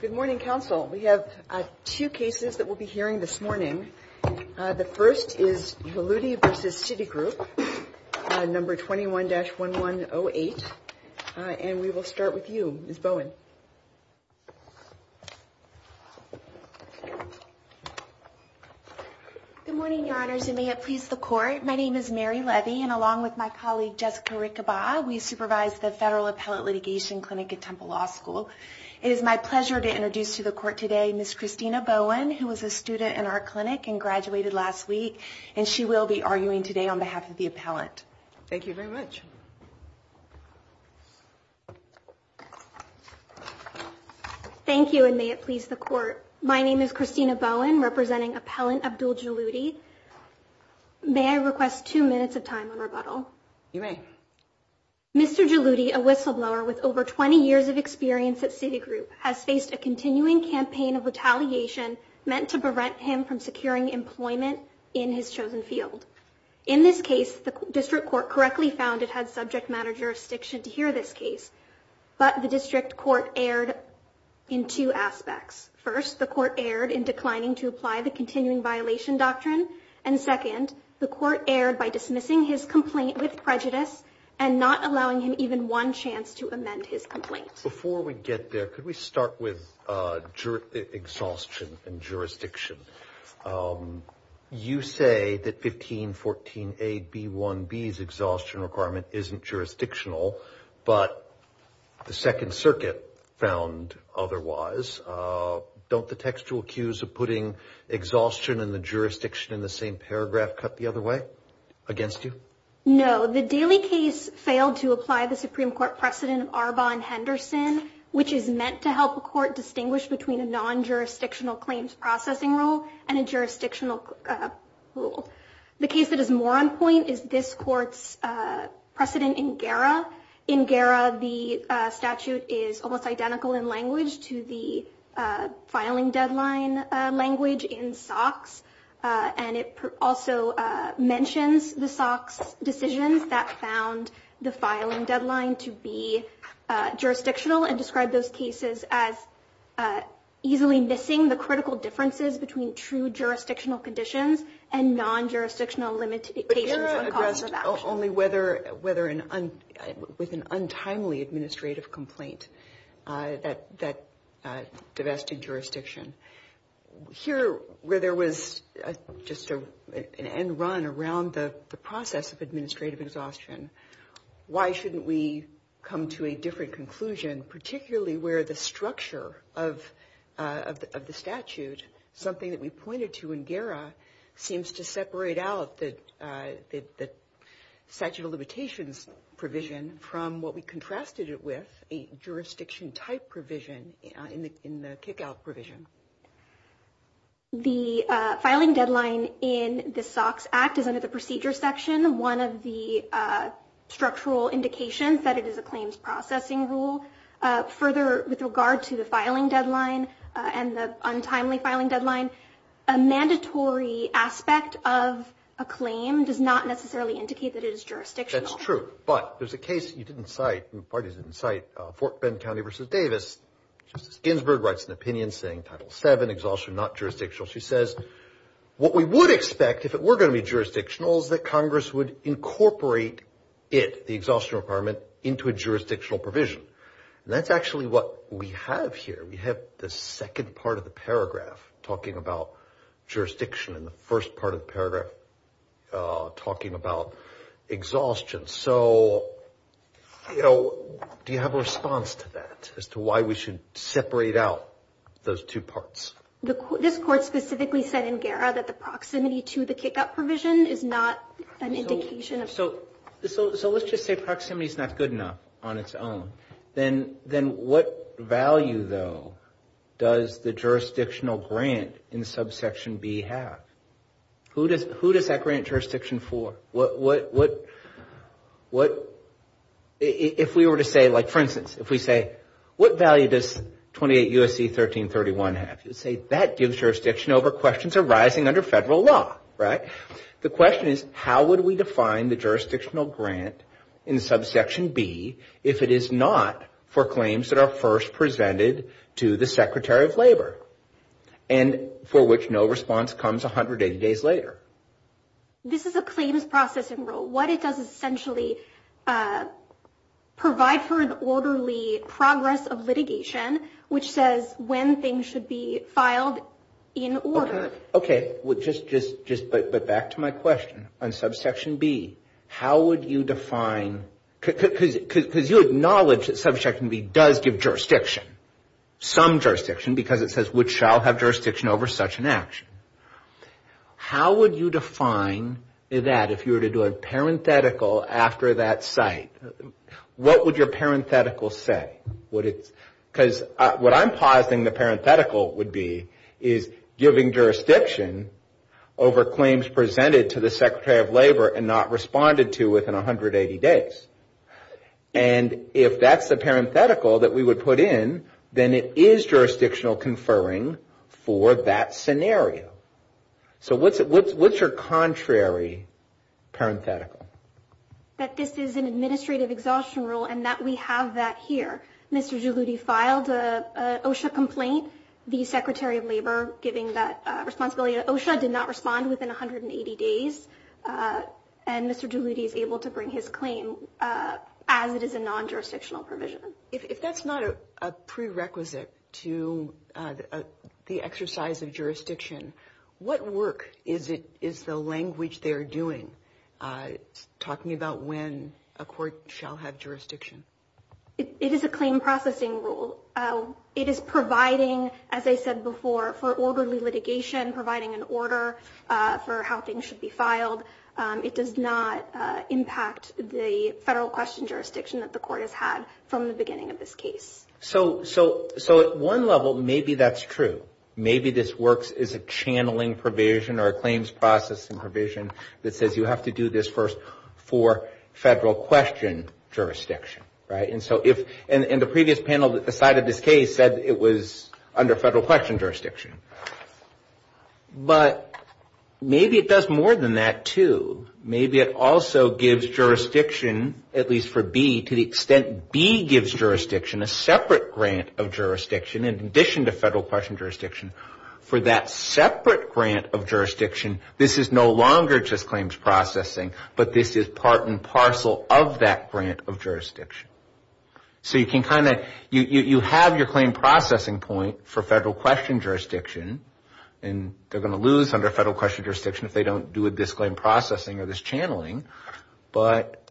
Good morning, Council. We have two cases that we'll be hearing this morning. The first is Jaludi v. Citigroup, number 21-1108. And we will start with you, Ms. Bowen. Good morning, Your Honors, and may it please the Court. My name is Mary Levy, and along with my colleague Jessica Riccobara, we supervise the Federal Appellate Litigation Clinic at Temple Law School. It is my pleasure to introduce to the Court today Ms. Christina Bowen, who was a student in our clinic and graduated last week, and she will be arguing today on behalf of the Appellant. Thank you very much. Thank you, and may it please the Court. My name is Christina Bowen, representing Appellant Abdul Jaludi. May I request two minutes of time on rebuttal? You may. Mr. Jaludi, a whistleblower with over 20 years of experience at Citigroup, has faced a continuing campaign of retaliation meant to prevent him from securing employment in his chosen field. In this case, the District Court correctly found it had subject matter jurisdiction to hear this case, but the District Court erred in two aspects. First, the Court erred in declining to apply the continuing violation doctrine, and second, the Court erred by dismissing his complaint with prejudice and not allowing him one chance to amend his complaint. Before we get there, could we start with exhaustion and jurisdiction? You say that 1514a b1b's exhaustion requirement isn't jurisdictional, but the Second Circuit found otherwise. Don't the textual cues of putting exhaustion and the jurisdiction in the same paragraph cut the other way against you? No. The Daley case failed to apply the Supreme Court precedent of Arbonne-Henderson, which is meant to help a court distinguish between a non-jurisdictional claims processing rule and a jurisdictional rule. The case that is more on point is this Court's precedent in GERA. In GERA, the statute is almost identical in language to the filing deadline language in SOX, and it also mentions the SOX decisions that found the filing deadline to be jurisdictional and described those cases as easily missing the critical differences between true jurisdictional conditions and non-jurisdictional limitations. But GERA addressed only with an untimely administrative complaint that divested jurisdiction. Here, where there was just an end run around the process of administrative exhaustion, why shouldn't we come to a different conclusion, particularly where the structure of the statute, something that we pointed to in GERA, seems to separate out the statute of limitations provision from what we contrasted it with, a jurisdiction type provision in the kick-out provision. The filing deadline in the SOX Act is under the procedure section, one of the structural indications that it is a claims processing rule. Further, with regard to the filing deadline and the untimely filing deadline, a mandatory aspect of a claim does not necessarily indicate that it is jurisdictional. That's true. But there's a case you didn't cite, the parties didn't cite, Fort Bend County versus Davis. Justice Ginsburg writes an opinion saying Title VII, exhaustion not jurisdictional. She says what we would expect if it were going to be jurisdictional is that Congress would incorporate it, the exhaustion requirement, into a jurisdictional provision. And that's actually what we have here. We have the second part of the paragraph talking about jurisdiction and the first part of the paragraph talking about exhaustion. So, you know, do you have a response to that as to why we should separate out those two parts? This court specifically said in GERA that the proximity to the kick-out provision is not an indication of... So let's just say what value, though, does the jurisdictional grant in subsection B have? Who does that grant jurisdiction for? If we were to say, like, for instance, if we say what value does 28 U.S.C. 1331 have? You'd say that gives jurisdiction over questions arising under federal law, right? The question is how would we define the jurisdictional grant in subsection B if it is not for claims that are first presented to the Secretary of Labor and for which no response comes 180 days later? This is a claims processing rule. What it does is essentially provide for an orderly progress of litigation, which says when things should be filed in order. Okay. But back to my question on subsection B. How would you define... Because you acknowledge that subsection B does give jurisdiction, some jurisdiction, because it says which shall have jurisdiction over such an action. How would you define that if you were to do a parenthetical after that site? What would your parenthetical say? Because what I'm positing the parenthetical would be is giving jurisdiction over claims presented to the Secretary of Labor and not responded to within 180 days. And if that's the parenthetical that we would put in, then it is jurisdictional conferring for that scenario. So what's your contrary parenthetical? That this is an administrative exhaustion rule and that we have that here. Mr. Giuludi filed an OSHA complaint. The Secretary of Labor, giving that responsibility to OSHA, did not respond within 180 days. And Mr. Giuludi is able to bring his claim as it is a non-jurisdictional provision. If that's not a prerequisite to the exercise of jurisdiction, what work is the language they're doing talking about when a court shall have jurisdiction? It is a claim processing rule. It is providing, as I said before, for orderly litigation, providing an order for how things should be filed. It does not impact the federal question jurisdiction that the court has had from the beginning of this case. So at one level, maybe that's true. Maybe this works as a channeling provision or a claims processing provision that says you have to do this first for federal question jurisdiction, right? And the previous panel that decided this case said it was under federal question jurisdiction. But maybe it does more than that, too. Maybe it also gives jurisdiction, at least for B, to the extent B gives jurisdiction, a separate grant of jurisdiction in addition to this. This is no longer just claims processing, but this is part and parcel of that grant of jurisdiction. So you can kind of, you have your claim processing point for federal question jurisdiction, and they're going to lose under federal question jurisdiction if they don't do this claim processing or this channeling. But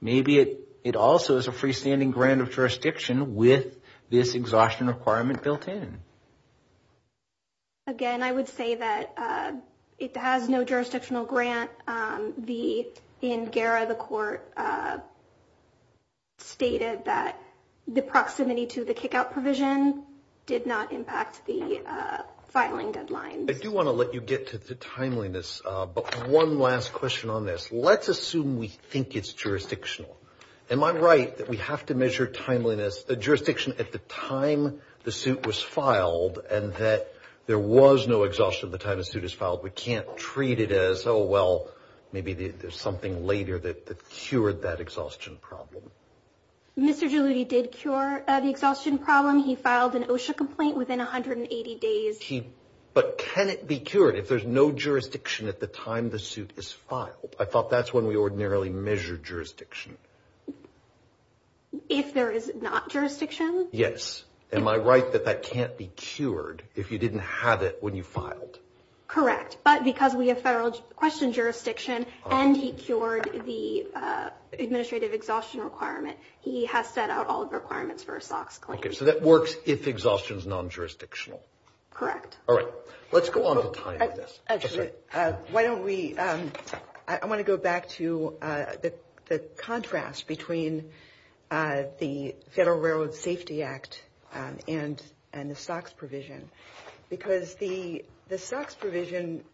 maybe it also is a freestanding grant of jurisdiction with this exhaustion requirement built in. Again, I would say that it has no jurisdictional grant. In GERA, the court stated that the proximity to the kickout provision did not impact the filing deadline. I do want to let you get to the timeliness, but one last question on this. Let's assume we think it's jurisdictional. Am I right that we have to measure the jurisdiction at the time the suit was filed and that there was no exhaustion at the time the suit was filed? We can't treat it as, oh, well, maybe there's something later that cured that exhaustion problem. Mr. Geludi did cure the exhaustion problem. He filed an OSHA complaint within 180 days. But can it be cured if there's no jurisdiction at the time the suit is filed? I thought that's when we ordinarily measure jurisdiction. If there is not jurisdiction? Yes. Am I right that that can't be cured if you didn't have it when you filed? Correct. But because we have federal question jurisdiction and he cured the administrative exhaustion requirement, he has set out all the requirements for a SOX claim. Okay, so that works if exhaustion is non-jurisdictional. Correct. All right. Let's go on. Actually, why don't we, I want to go back to the contrast between the Federal Railroad Safety Act and the SOX provision, because the SOX provision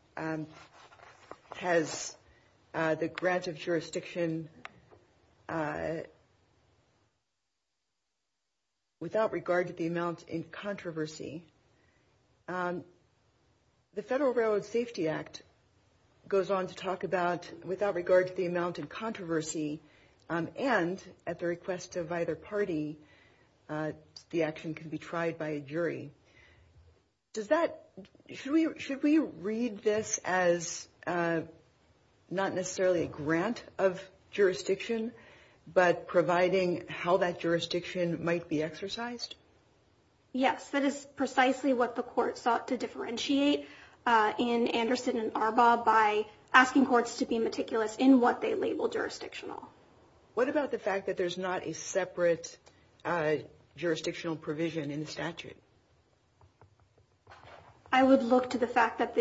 without regard to the amount in controversy, the Federal Railroad Safety Act goes on to talk about without regard to the amount in controversy and at the request of either party, the action can be tried by a jury. Should we read this as not necessarily a grant of jurisdiction, but providing how that jurisdiction might be exercised? Yes, that is precisely what the court sought to differentiate in Anderson and Arbaugh by asking courts to be meticulous in what they label jurisdictional. What about the fact that there's not a separate jurisdictional provision in the statute? I would look to the fact that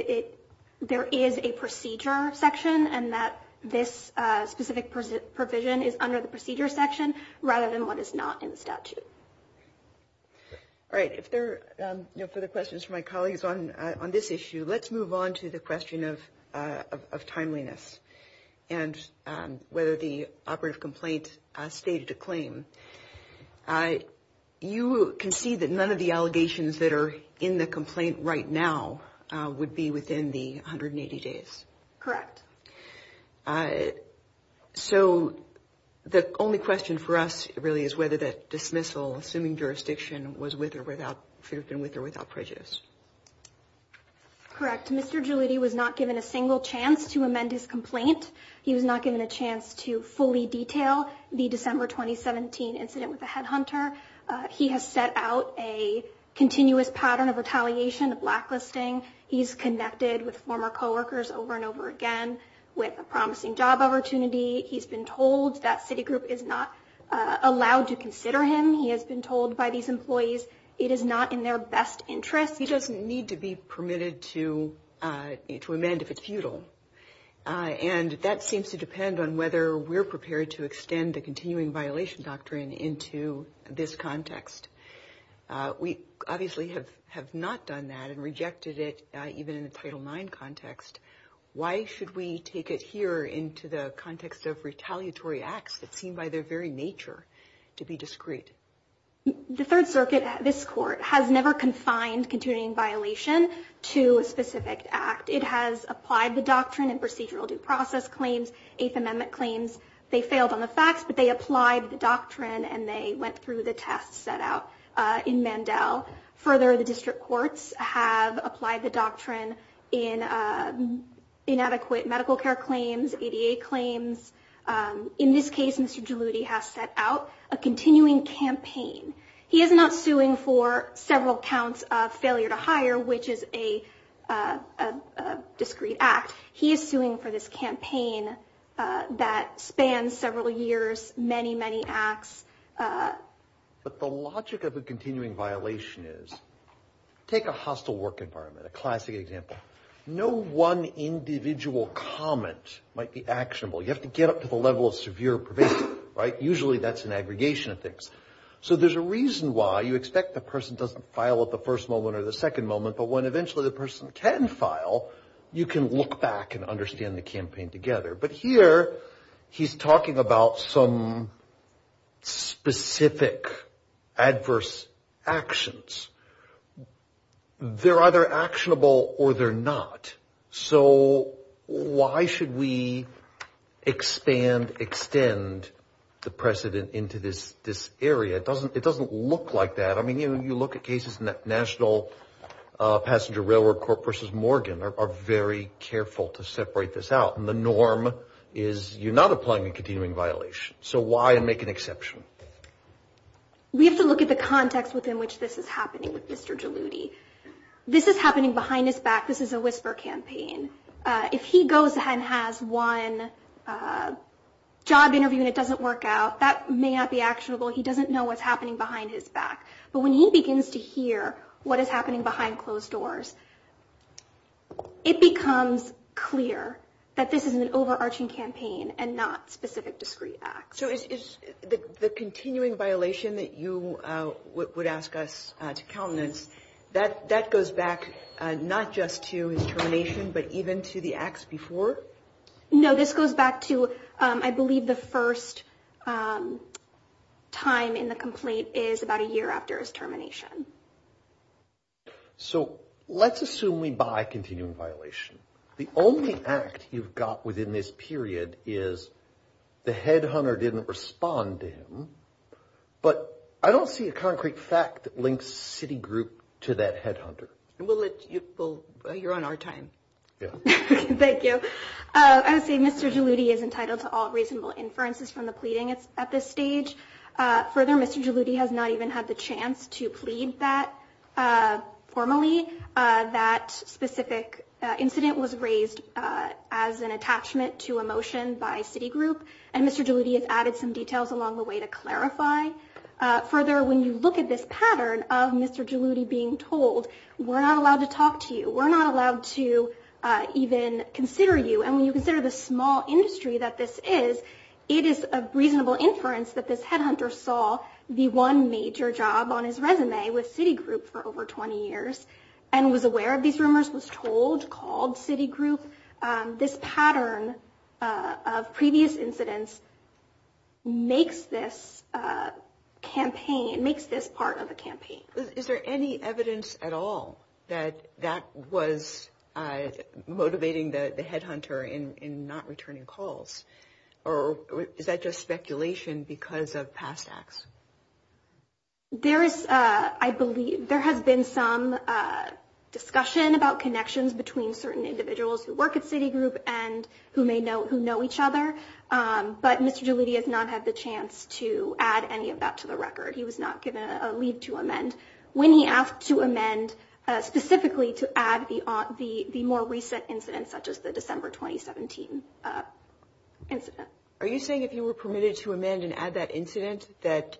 there is a procedure section and that this specific provision is under the procedure section rather than what is not in the statute. All right. If there are no further questions from my colleagues on this issue, let's move on to the question of timeliness and whether the operative complaint stated a claim. You can see that none of the allegations that are in the complaint right now would be within the 180 days. Correct. So the only question for us really is whether that dismissal, assuming jurisdiction, was with or without, should have been with or without prejudice. Correct. Mr. Jaliti was not given a single chance to amend his complaint. He was not given a chance to fully detail the December 2017 incident with the headhunter. He has set out a continuous pattern of retaliation, of blacklisting. He's connected with former co-workers over and over again with a promising job opportunity. He's been told that Citigroup is not allowed to consider him. He has been told by these employees it is not in their best interest. He doesn't need to be permitted to amend if it's futile. And that seems to depend on whether we're prepared to extend the continuing violation doctrine into this context. We obviously have not done that and rejected it even in a Title IX context. Why should we take it here into the context of retaliatory acts that seem by their very nature to be discreet? The Third Circuit, this Court, has never confined continuing violation to a specific act. It has applied the doctrine in procedural due process claims, Eighth Amendment claims. They failed on the facts, but they applied the doctrine and they went through the tests set out in Mandel. Further, the District Courts have applied the doctrine in inadequate medical care claims, ADA claims. In this case, Mr. Jaliti has set out a continuing campaign. He is not suing for several counts of discreet act. He is suing for this campaign that spans several years, many, many acts. But the logic of a continuing violation is, take a hostile work environment, a classic example, no one individual comment might be actionable. You have to get up to the level of severe pervasive, right? Usually that's an aggregation of things. So there's a reason why you expect the person doesn't file at the first moment or the second moment, but when eventually the person can file, you can look back and understand the campaign together. But here he's talking about some specific adverse actions. They're either actionable or they're not. So why should we expand, extend the precedent into this area? It doesn't look like that. I mean, you look at cases in the National Passenger Railroad Corp versus Morgan are very careful to separate this out. And the norm is you're not applying a continuing violation. So why make an exception? We have to look at the context within which this is happening with Mr. Jaliti. This is happening behind his back. This is a whisper campaign. If he goes ahead and has one job interview and it doesn't work out, that may not be actionable. He doesn't know what's happening behind his back. But when he begins to hear what is happening behind closed doors, it becomes clear that this is an overarching campaign and not specific discrete acts. So is the continuing violation that you would ask us to countenance, that goes back not just to his termination, but even to the acts before? No, this goes back to, I believe the first time in the complaint is about a year after his termination. So let's assume we buy a continuing violation. The only act you've got within this period is the headhunter didn't respond to him. But I don't see a concrete fact that links Citigroup to that headhunter. Well, you're on our time. Yeah, thank you. I would say Mr. Jaliti is entitled to all reasonable inferences from the pleading at this stage. Further, Mr. Jaliti has not even had the chance to plead that formally. That specific incident was raised as an attachment to a motion by Citigroup. And Mr. Jaliti has added some details along the way to clarify. Further, when you look at this even consider you, and when you consider the small industry that this is, it is a reasonable inference that this headhunter saw the one major job on his resume with Citigroup for over 20 years and was aware of these rumors, was told, called Citigroup. This pattern of previous incidents makes this campaign, makes this part of a campaign. Is there any evidence at all that that was motivating the headhunter in not returning calls? Or is that just speculation because of past acts? There is, I believe, there has been some discussion about connections between certain individuals who work at Citigroup and who know each other. But Mr. Jaliti has not had the chance to add any of that to the record. He was not given a leave to amend. When he asked to amend specifically to add the more recent incidents such as the December 2017 incident. Are you saying if you were permitted to amend and add that incident that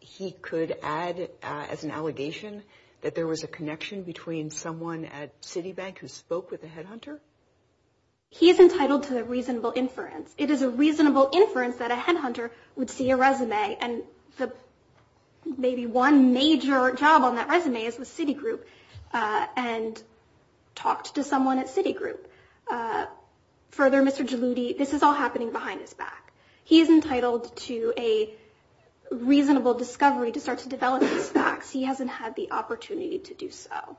he could add as an allegation that there was a connection between someone at Citibank who spoke with the headhunter? He is entitled to the reasonable inference. It is a reasonable inference that a headhunter would see a resume and the maybe one major job on that resume is with Citigroup and talked to someone at Citigroup. Further, Mr. Jaliti, this is all happening behind his back. He is entitled to a reasonable discovery to start to develop these facts. He hasn't had the opportunity to do so.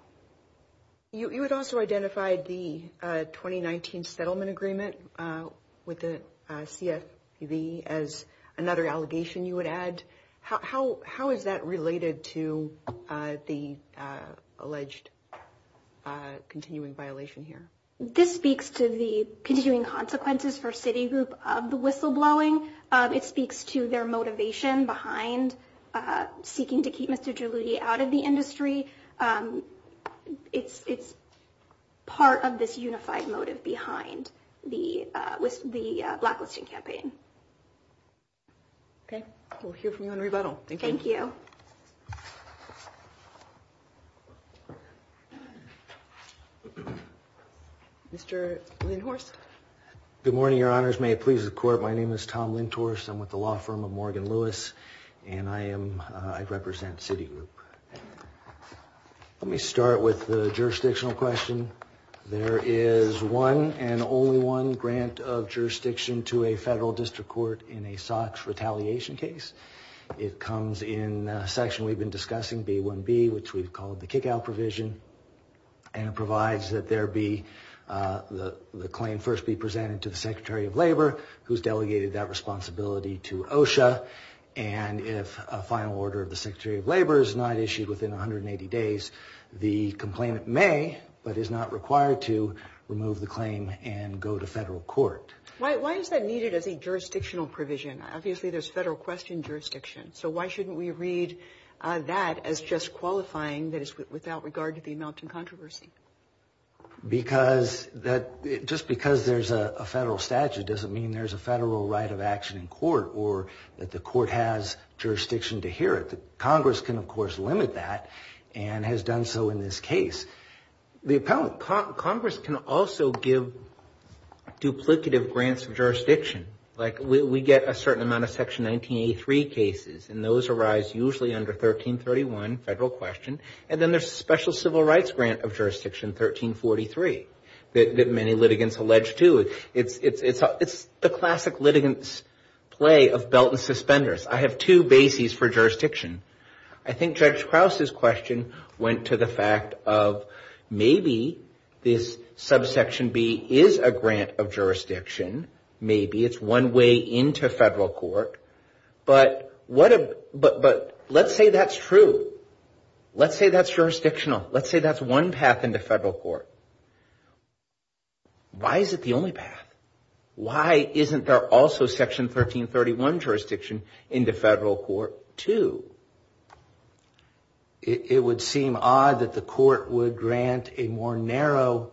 You had also identified the 2019 settlement agreement with the CFPB as another allegation you would add. How is that related to the alleged continuing violation here? This speaks to the continuing consequences for Citigroup of the whistleblowing. It speaks to their motivation behind seeking to keep Mr. Jaliti out of the industry. It's part of this unified motive behind the blacklisting campaign. Okay, we'll hear from you in rebuttal. Thank you. Mr. Lindhorst. Good morning, your honors. May it please the court. My name is Tom Lindhorst. I'm the law firm of Morgan Lewis, and I represent Citigroup. Let me start with the jurisdictional question. There is one and only one grant of jurisdiction to a federal district court in a SOX retaliation case. It comes in the section we've been discussing, B1B, which we've called the kickout provision, and it provides that the claim first be presented to the Secretary of Labor who's delegated that responsibility to OSHA, and if a final order of the Secretary of Labor is not issued within 180 days, the complainant may, but is not required to, remove the claim and go to federal court. Why is that needed as a jurisdictional provision? Obviously there's federal question jurisdiction, so why shouldn't we read that as just qualifying, that is without regard to the there's a federal right of action in court, or that the court has jurisdiction to hear it. Congress can, of course, limit that, and has done so in this case. Congress can also give duplicative grants of jurisdiction. Like we get a certain amount of section 1983 cases, and those arise usually under 1331 federal question, and then there's a special civil rights grant of jurisdiction, 1343, that many litigants allege to. It's the classic litigants play of belt and suspenders. I have two bases for jurisdiction. I think Judge Krause's question went to the fact of maybe this subsection B is a grant of jurisdiction, maybe it's one way into federal court, but let's say that's true. Let's say that's jurisdictional. Let's say that's one path into federal court. Why is it the only path? Why isn't there also section 1331 jurisdiction into federal court too? It would seem odd that the court would grant a more narrow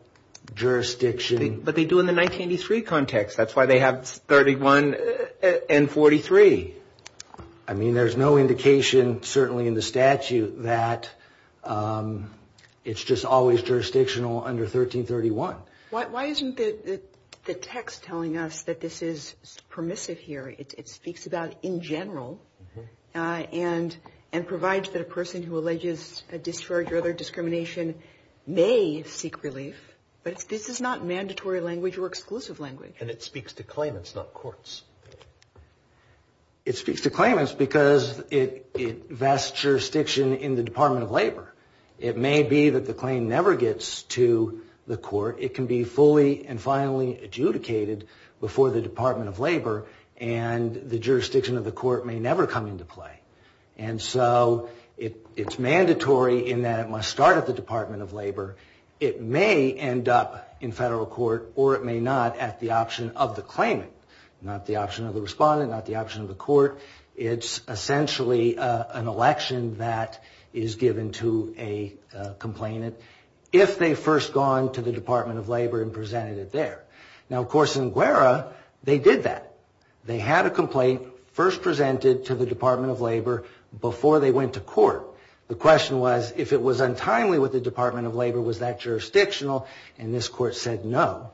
jurisdiction. But they do in the 1983 context. That's why they have 31 and 43. I mean, there's no indication, certainly in the statute, that it's just always jurisdictional under 1331. Why isn't the text telling us that this is permissive here? It speaks about in general, and provides that a person who alleges a discharge or other discrimination may seek relief, but this is not mandatory language or exclusive language. And it speaks to claimants, not courts. It speaks to claimants because it vests jurisdiction in the Department of Labor. It may be that the claim never gets to the court. It can be fully and finally adjudicated before the Department of Labor, and the jurisdiction of the court may never come into play. And so it's mandatory in that it must start at the Department of Labor. It may end up in federal court or it may not at the option of the claimant, not the option of the respondent, not the option of the court. It's essentially an election that is given to a complainant if they first gone to the Department of Labor and presented it there. Now, of course, in Guerra, they did that. They had a complaint first presented to the Department of Labor before they went to court. The question was, if it was untimely with the Department of Labor, was that jurisdictional? And this court said no.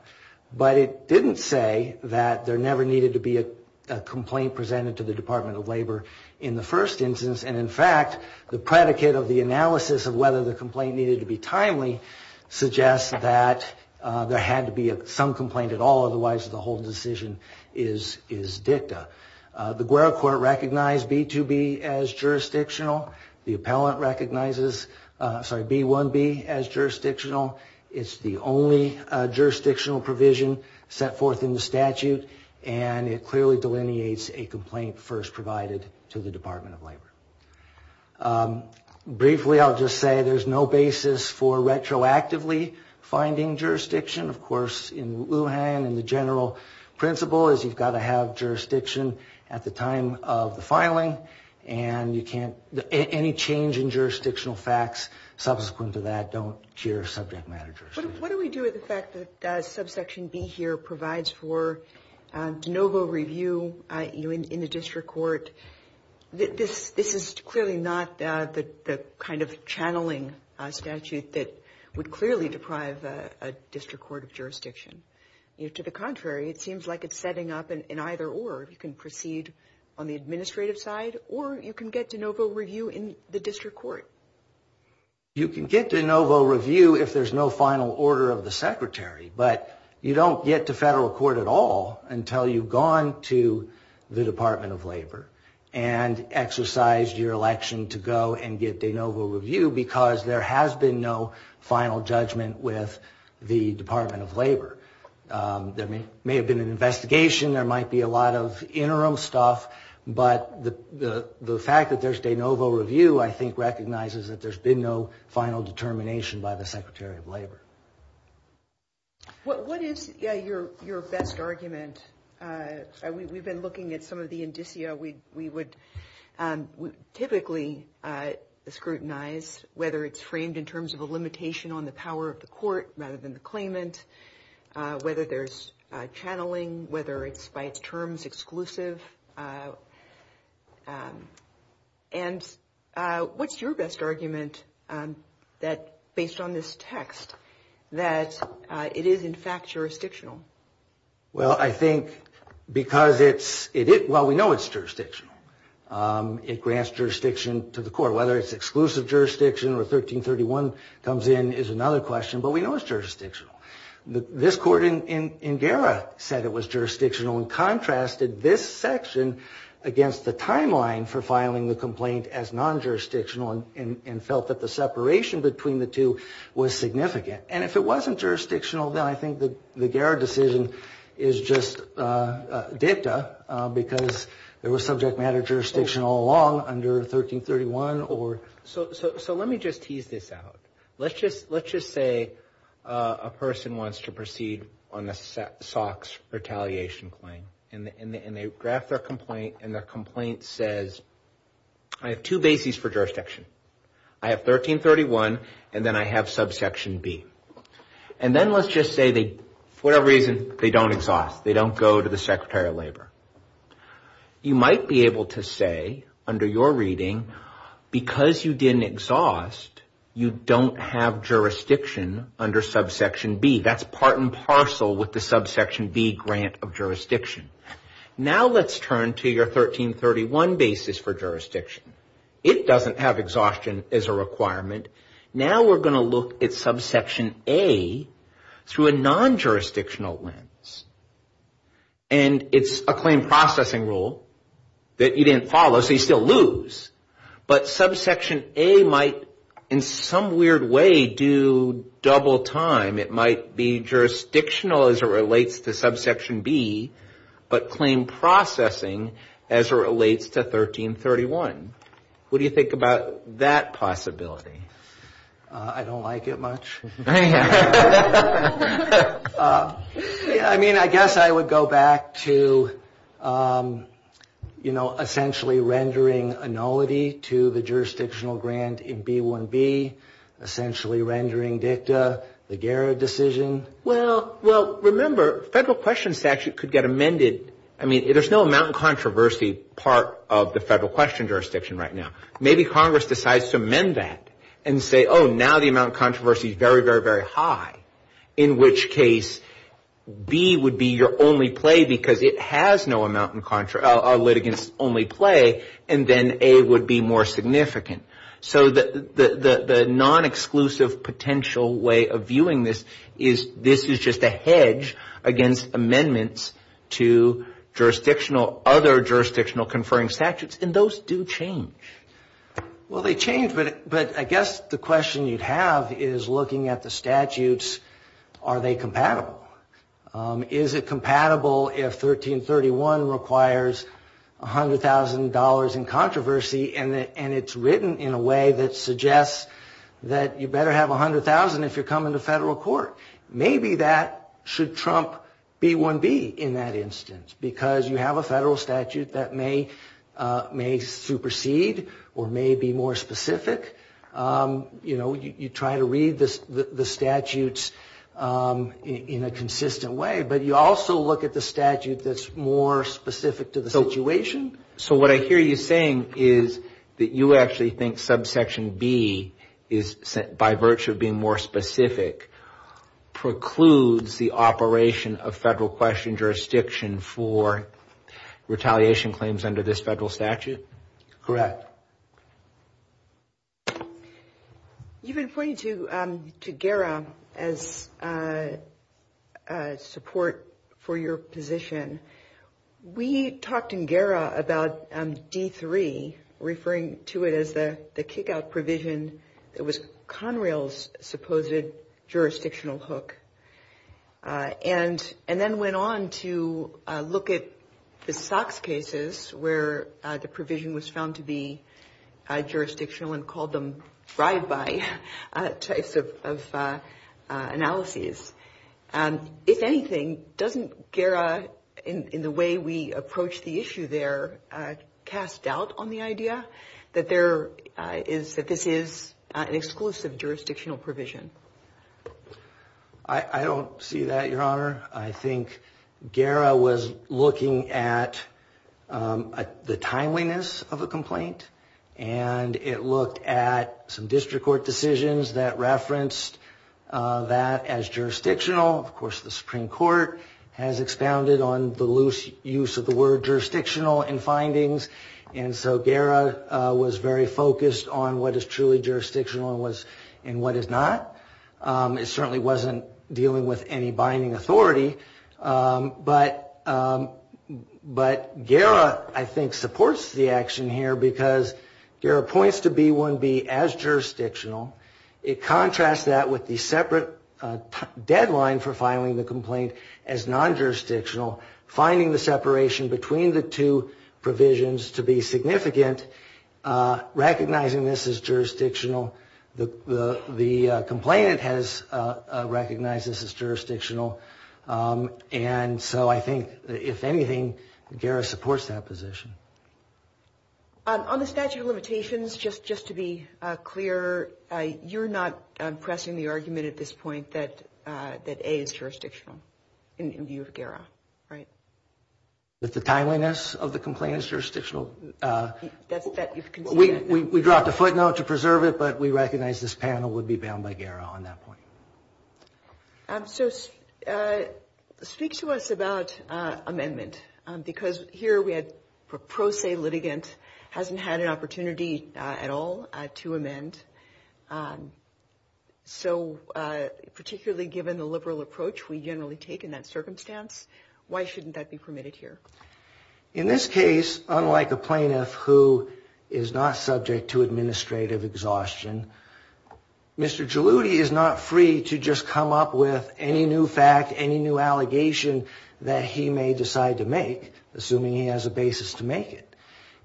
But it didn't say that there never needed to be a complaint presented to the Department of Labor in the first instance. And in fact, the predicate of the analysis of whether the complaint needed to be timely suggests that there had to be some complaint at all. Otherwise, the whole decision is dicta. The Guerra Court recognized B2B as jurisdictional. The appellant recognizes B1B as jurisdictional. It's the only jurisdictional provision set forth in the statute, and it clearly delineates a complaint first provided to the Department of Labor. Briefly, I'll just say there's no basis for retroactively finding jurisdiction. Of course, in Lujan and the principle is you've got to have jurisdiction at the time of the filing, and any change in jurisdictional facts subsequent to that don't cure subject matter jurisdiction. What do we do with the fact that subsection B here provides for de novo review in the district court? This is clearly not the kind of channeling statute that would clearly deprive a district court of jurisdiction. To the contrary, it seems like it's setting up an either or. You can proceed on the administrative side, or you can get de novo review in the district court. You can get de novo review if there's no final order of the secretary, but you don't get to federal court at all until you've gone to the Department of Labor and exercised your election to go and get de novo review because there has been no final judgment with the Department of Labor. There may have been an investigation. There might be a lot of interim stuff, but the fact that there's de novo review, I think, recognizes that there's been no final determination by the Secretary of Labor. What is your best argument? We've been looking at some of the indicia we would typically scrutinize, whether it's framed in terms of a limitation on the power of the court rather than the claimant, whether there's channeling, whether it's by its terms exclusive, and what's your best argument based on this text that it is in fact jurisdictional? Well, I think because it's, well, we know it's jurisdictional. It grants jurisdiction to the court. Whether it's exclusive jurisdiction or 1331 comes in is another question, but we know it's jurisdictional. This court in Guerra said it was jurisdictional and contrasted this section against the timeline for filing the complaint as non-jurisdictional and felt that the separation between the two was significant. And if it wasn't jurisdictional, then I think the Guerra decision is just dicta because there was subject matter jurisdiction all along under 1331 or... So let me just tease this out. Let's just say a person wants to proceed on a SOX retaliation claim and they draft their complaint and their complaint says, I have two bases for jurisdiction. I have 1331 and then I have subsection B. And then let's just say they, for whatever reason, they don't exhaust. They don't go to the Secretary of Labor. You might be able to say under your reading, because you didn't exhaust, you don't have jurisdiction under subsection B. That's part and parcel with the subsection B grant of jurisdiction. Now let's turn to your 1331 basis for jurisdiction. It doesn't have exhaustion as a requirement. Now we're going to look at subsection A through a non-jurisdictional lens. And it's a claim processing rule that you didn't follow, so you still lose. But subsection A might in some weird way do double time. It might be that you didn't follow subsection A under subsection 1331. What do you think about that possibility? I don't like it much. I mean, I guess I would go back to, you know, essentially rendering annulity to the jurisdictional grant in B1B, essentially rendering dicta the Garrett decision. Well, remember, federal question statute could get amended. I mean, there's no amount of controversy part of the federal question jurisdiction right now. Maybe Congress decides to amend that and say, oh, now the amount of controversy is very, very, very high, in which case B would be your only play because it has no amount of litigants only play, and then A would be more significant. So the non-exclusive potential way of viewing this is this is just a hedge against amendments to other jurisdictional conferring statutes, and those do change. Well, they change, but I guess the question you'd have is looking at the statutes, are they compatible? Is it compatible if 1331 requires $100,000 in controversy, and it's written in a way that suggests that you better have $100,000 if you're coming to federal court. Maybe that should trump B1B in that instance, because you have a federal statute that may supersede or may be more specific. You try to read the statutes in a consistent way, but you also look at the statute that's more specific to the situation. So what I hear you saying is that you actually think subsection B is, by virtue of being more specific, precludes the operation of federal question jurisdiction for retaliation claims under this federal statute? Correct. You've been pointing to GERA as support for your position. We talked in GERA about D3, referring to it as the kickout provision that was Conrail's supposed jurisdictional hook, and then went on to look at the SOX cases where the provision was found to be jurisdictional and called them ride-by types of analyses. If anything, doesn't GERA, in the way we approach the issue there, cast doubt on the idea that this is an exclusive jurisdictional provision? I don't see that, Your Honor. I think GERA was looking at the timeliness of a complaint, and it looked at some district court decisions that referenced that as jurisdictional. Of course, the Supreme Court has expounded on the loose use of the word jurisdictional in findings, and so GERA was very focused on what is truly jurisdictional and what is not. It certainly wasn't dealing with any binding authority, but GERA, I think, supports the action here because GERA points to B1B as jurisdictional. It contrasts that with the separate deadline for filing the complaint as non-jurisdictional, finding the separation between the two provisions to be significant, recognizing this as jurisdictional. The complainant has recognized this as jurisdictional, and so I think, if anything, GERA supports that position. On the statute of limitations, just to be clear, you're not pressing the argument at this point that A is jurisdictional in view of GERA, right? That the timeliness of the complaint is jurisdictional? We dropped a footnote to preserve it, but we recognize this panel would be bound by GERA on that point. So speak to us about amendment, because here we had a pro se litigant, hasn't had an opportunity at all to amend. So particularly given the liberal approach we generally take in that circumstance, why shouldn't that be permitted here? In this case, unlike a plaintiff who is not subject to administrative exhaustion, Mr. Jaloudi is not free to just come up with any new fact, any new allegation that he may decide to make, assuming he has a basis to make it.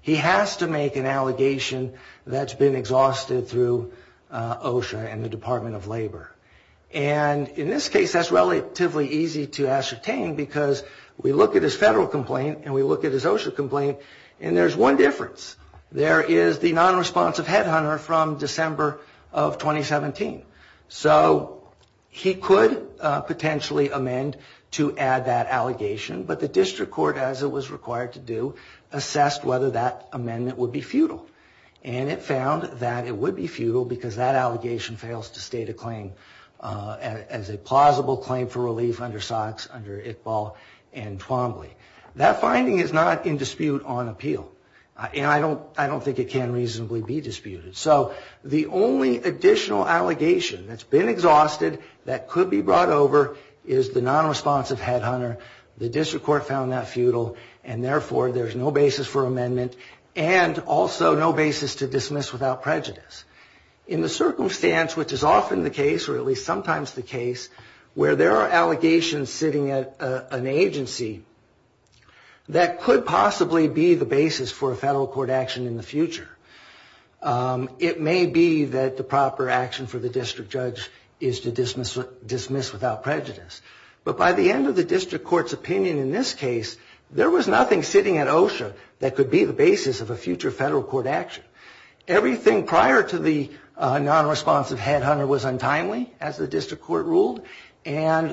He has to make an allegation that's been exhausted through OSHA and the Department of Labor. And in this case, that's relatively easy to ascertain because we look at his federal complaint and we look at his OSHA complaint, and there's one difference. There is the non-responsive headhunter from December of 2017. So he could potentially amend to add that allegation, but the district court, as it was required to do, assessed whether that amendment would be futile. And it found that it would be futile because that allegation fails to state a claim as a plausible claim for relief under SOX, under Iqbal, and Twombly. That finding is not in dispute on appeal, and I don't think it can reasonably be disputed. So the only additional allegation that's been exhausted that could be brought over is the non-responsive headhunter. The district court found that futile, and therefore, there's no basis for amendment and also no basis to dismiss without prejudice. In the circumstance, which is often the case, or at least sometimes the case, where there are allegations sitting at an agency, that could be the basis for a federal court action in the future. It may be that the proper action for the district judge is to dismiss without prejudice. But by the end of the district court's opinion in this case, there was nothing sitting at OSHA that could be the basis of a future federal court action. Everything prior to the non-responsive headhunter was untimely, as the district court found.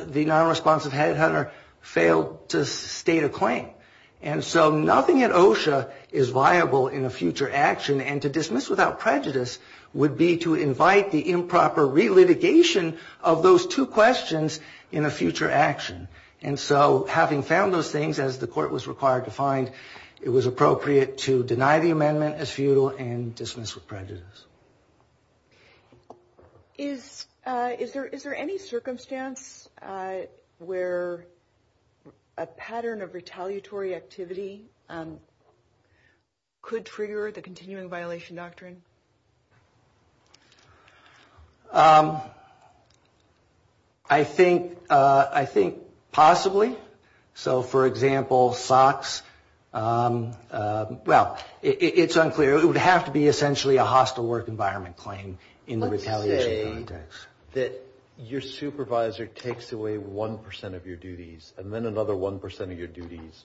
Nothing at OSHA is viable in a future action, and to dismiss without prejudice would be to invite the improper re-litigation of those two questions in a future action. And so, having found those things, as the court was required to find, it was appropriate to deny the amendment as futile and dismiss with prejudice. Is there any circumstance where a pattern of retaliatory activity could trigger the continuing violation doctrine? I think possibly. So, for example, SOX. Well, it's unclear. It would have to be essentially a hostile environment playing in the retaliation context. Let's say that your supervisor takes away one percent of your duties, and then another one percent of your duties.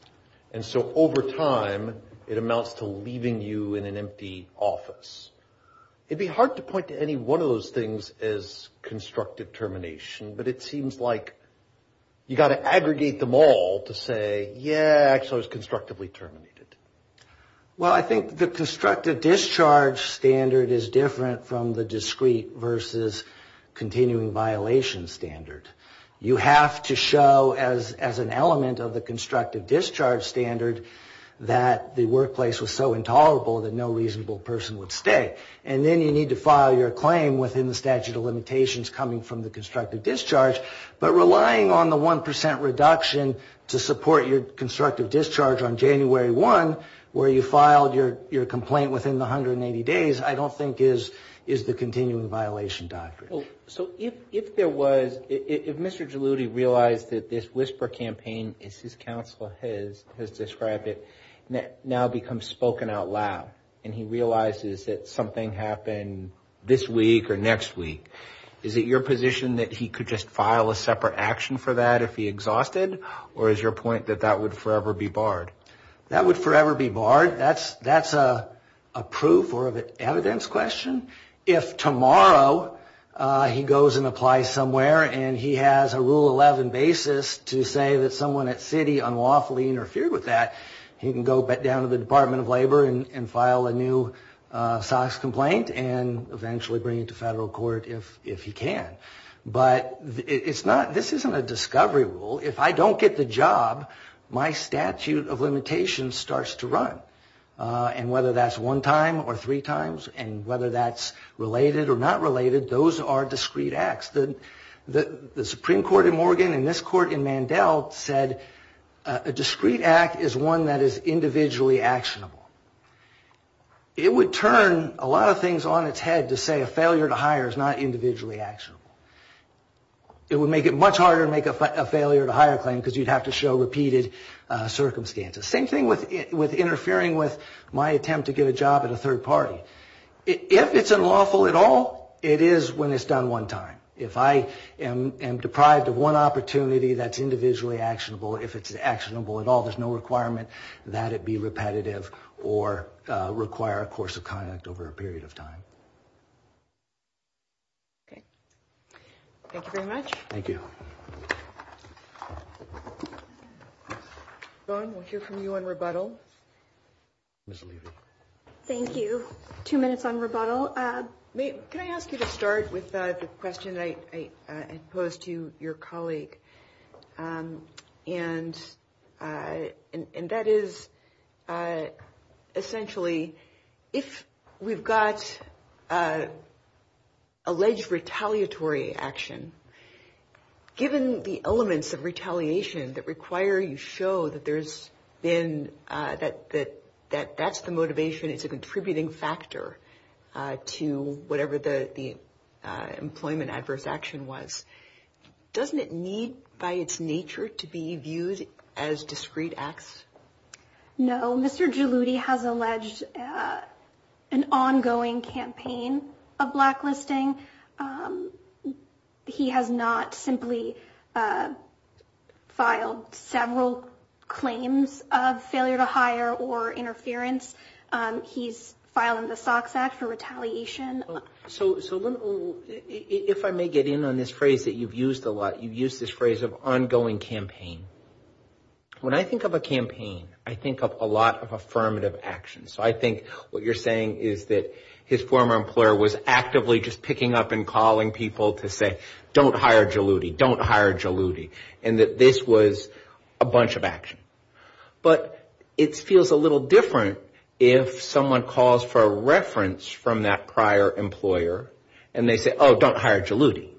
And so, over time, it amounts to leaving you in an empty office. It'd be hard to point to any one of those things as constructive termination, but it seems like you got to aggregate them all to say, yeah, actually, it was constructively terminated. Well, I think the constructive discharge standard is different from the discrete versus continuing violation standard. You have to show, as an element of the constructive discharge standard, that the workplace was so intolerable that no reasonable person would stay. And then you need to file your claim within the statute of limitations coming from the constructive discharge. But relying on the one percent reduction to support your constructive discharge on January 1, where you filed your complaint within the 180 days, I don't think is the continuing violation doctrine. So, if there was, if Mr. Geludi realized that this whisper campaign, as his counsel has described it, now becomes spoken out loud, and he realizes that something happened this week or next week, is it your position that he could just file a separate action for that if he exhausted? Or is your point that that would forever be barred? That's a proof or evidence question. If tomorrow he goes and applies somewhere and he has a rule 11 basis to say that someone at city unlawfully interfered with that, he can go back down to the Department of Labor and file a new SOX complaint and eventually bring it to federal court if he can. But this isn't a discovery rule. If I don't get the job, my statute of limitations starts to run. And whether that's one time or three times, and whether that's related or not related, those are discrete acts. The Supreme Court in Morgan and this court in Mandel said a discrete act is one that is individually actionable. It would turn a lot of things on its head to say a failure to hire is not individually actionable. It would make it much harder to make a failure to hire claim because you'd have to show repeated circumstances. Same thing with interfering with my attempt to get a job at a third party. If it's unlawful at all, it is when it's done one time. If I am deprived of one opportunity that's individually actionable, if it's actionable at all, there's no requirement that it be repetitive or require a course of conduct over a period of time. Okay. Thank you very much. Thank you. Vaughn, we'll hear from you on rebuttal. Thank you. Two minutes on rebuttal. Can I ask you to start with the question I posed to your colleague? And that is, essentially, if we've got alleged retaliatory action, given the elements of retaliation that require you show that that's the motivation, it's a contributing factor to whatever the employment adverse action was, doesn't it need, by its nature, to be viewed as discrete acts? No. Mr. Geludi has alleged an ongoing campaign of blacklisting. He has not simply filed several claims of failure to hire or interference. He's filing the SOX Act for You've used this phrase of ongoing campaign. When I think of a campaign, I think of a lot of affirmative action. So I think what you're saying is that his former employer was actively just picking up and calling people to say, don't hire Geludi, don't hire Geludi, and that this was a bunch of action. But it feels a little different if someone calls for a reference from that prior employer, and they say, oh, don't hire Geludi.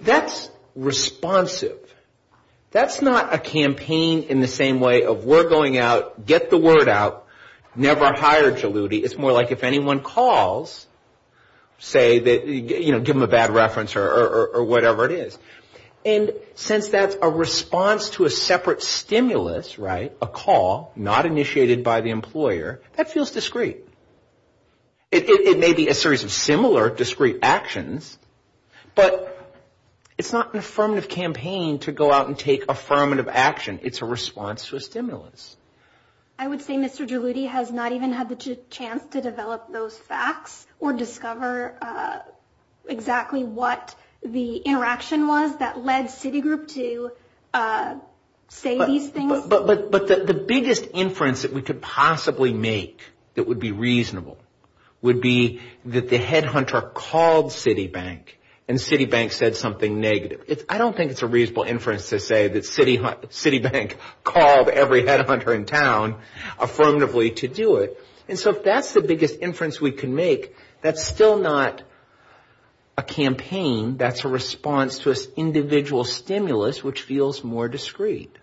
That's responsive. That's not a campaign in the same way of we're going out, get the word out, never hire Geludi. It's more like if anyone calls, say, give them a bad reference or whatever it is. And since that's a response to a separate stimulus, a call not initiated by the employer, that feels discreet. It may be a series of similar discreet actions, but it's not an affirmative campaign to go out and take affirmative action. It's a response to a stimulus. I would say Mr. Geludi has not even had the chance to develop those facts or discover exactly what the interaction was that led Citigroup to say these things. But the biggest inference that we could possibly make that would be reasonable would be that the headhunter called Citibank and Citibank said something negative. I don't think it's a reasonable inference to say that Citibank called every headhunter in town affirmatively to do it. And so if that's the biggest inference we can make, that's still not a campaign. That's a response to an individual stimulus, which feels more discreet.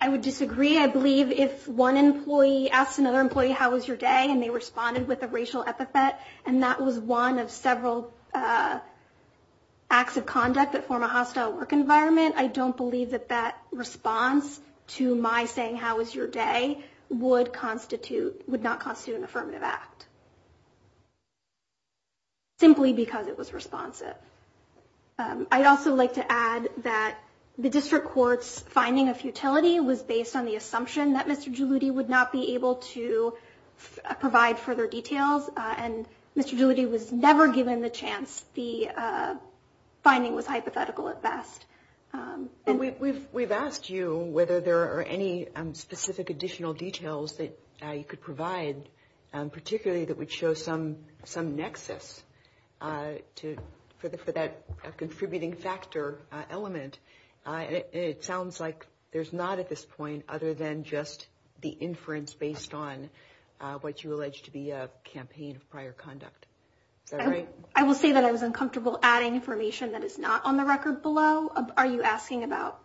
I would disagree. I believe if one employee asked another employee, how was your day? And they responded with a racial epithet. And that was one of several acts of conduct that form a hostile work environment. I don't believe that that response to my saying how was your day would constitute, would not constitute an affirmative act simply because it was responsive. I'd also like to add that the district court's finding of futility was based on the assumption that Mr. Geludi would not be able to provide further details. And Mr. Geludi was never given the chance. The finding was hypothetical at best. And we've asked you whether there are any specific additional details that you could provide particularly that would show some nexus for that contributing factor element. It sounds like there's not at this point other than just the inference based on what you allege to be a campaign of prior conduct. Is that right? I will say that I was uncomfortable adding information that is not on the record below. Are you asking about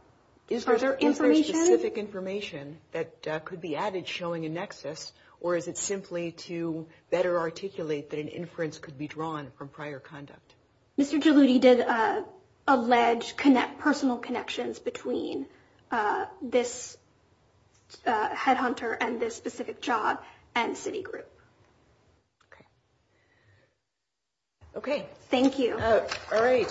further information? Is there specific information that could be added showing a nexus or is it simply to better articulate that an inference could be drawn from prior conduct? Mr. Geludi did allege personal connections between this headhunter and this specific job and city group. Okay. Thank you. All right.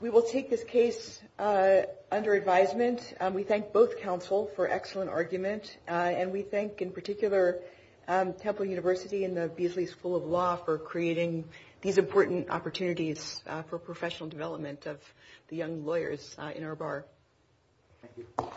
We will take this case under advisement. We thank both counsel for excellent argument and we thank in particular Temple University and the Beasley School of Law for creating these important opportunities for professional development of the young lawyers in our bar. Thank you.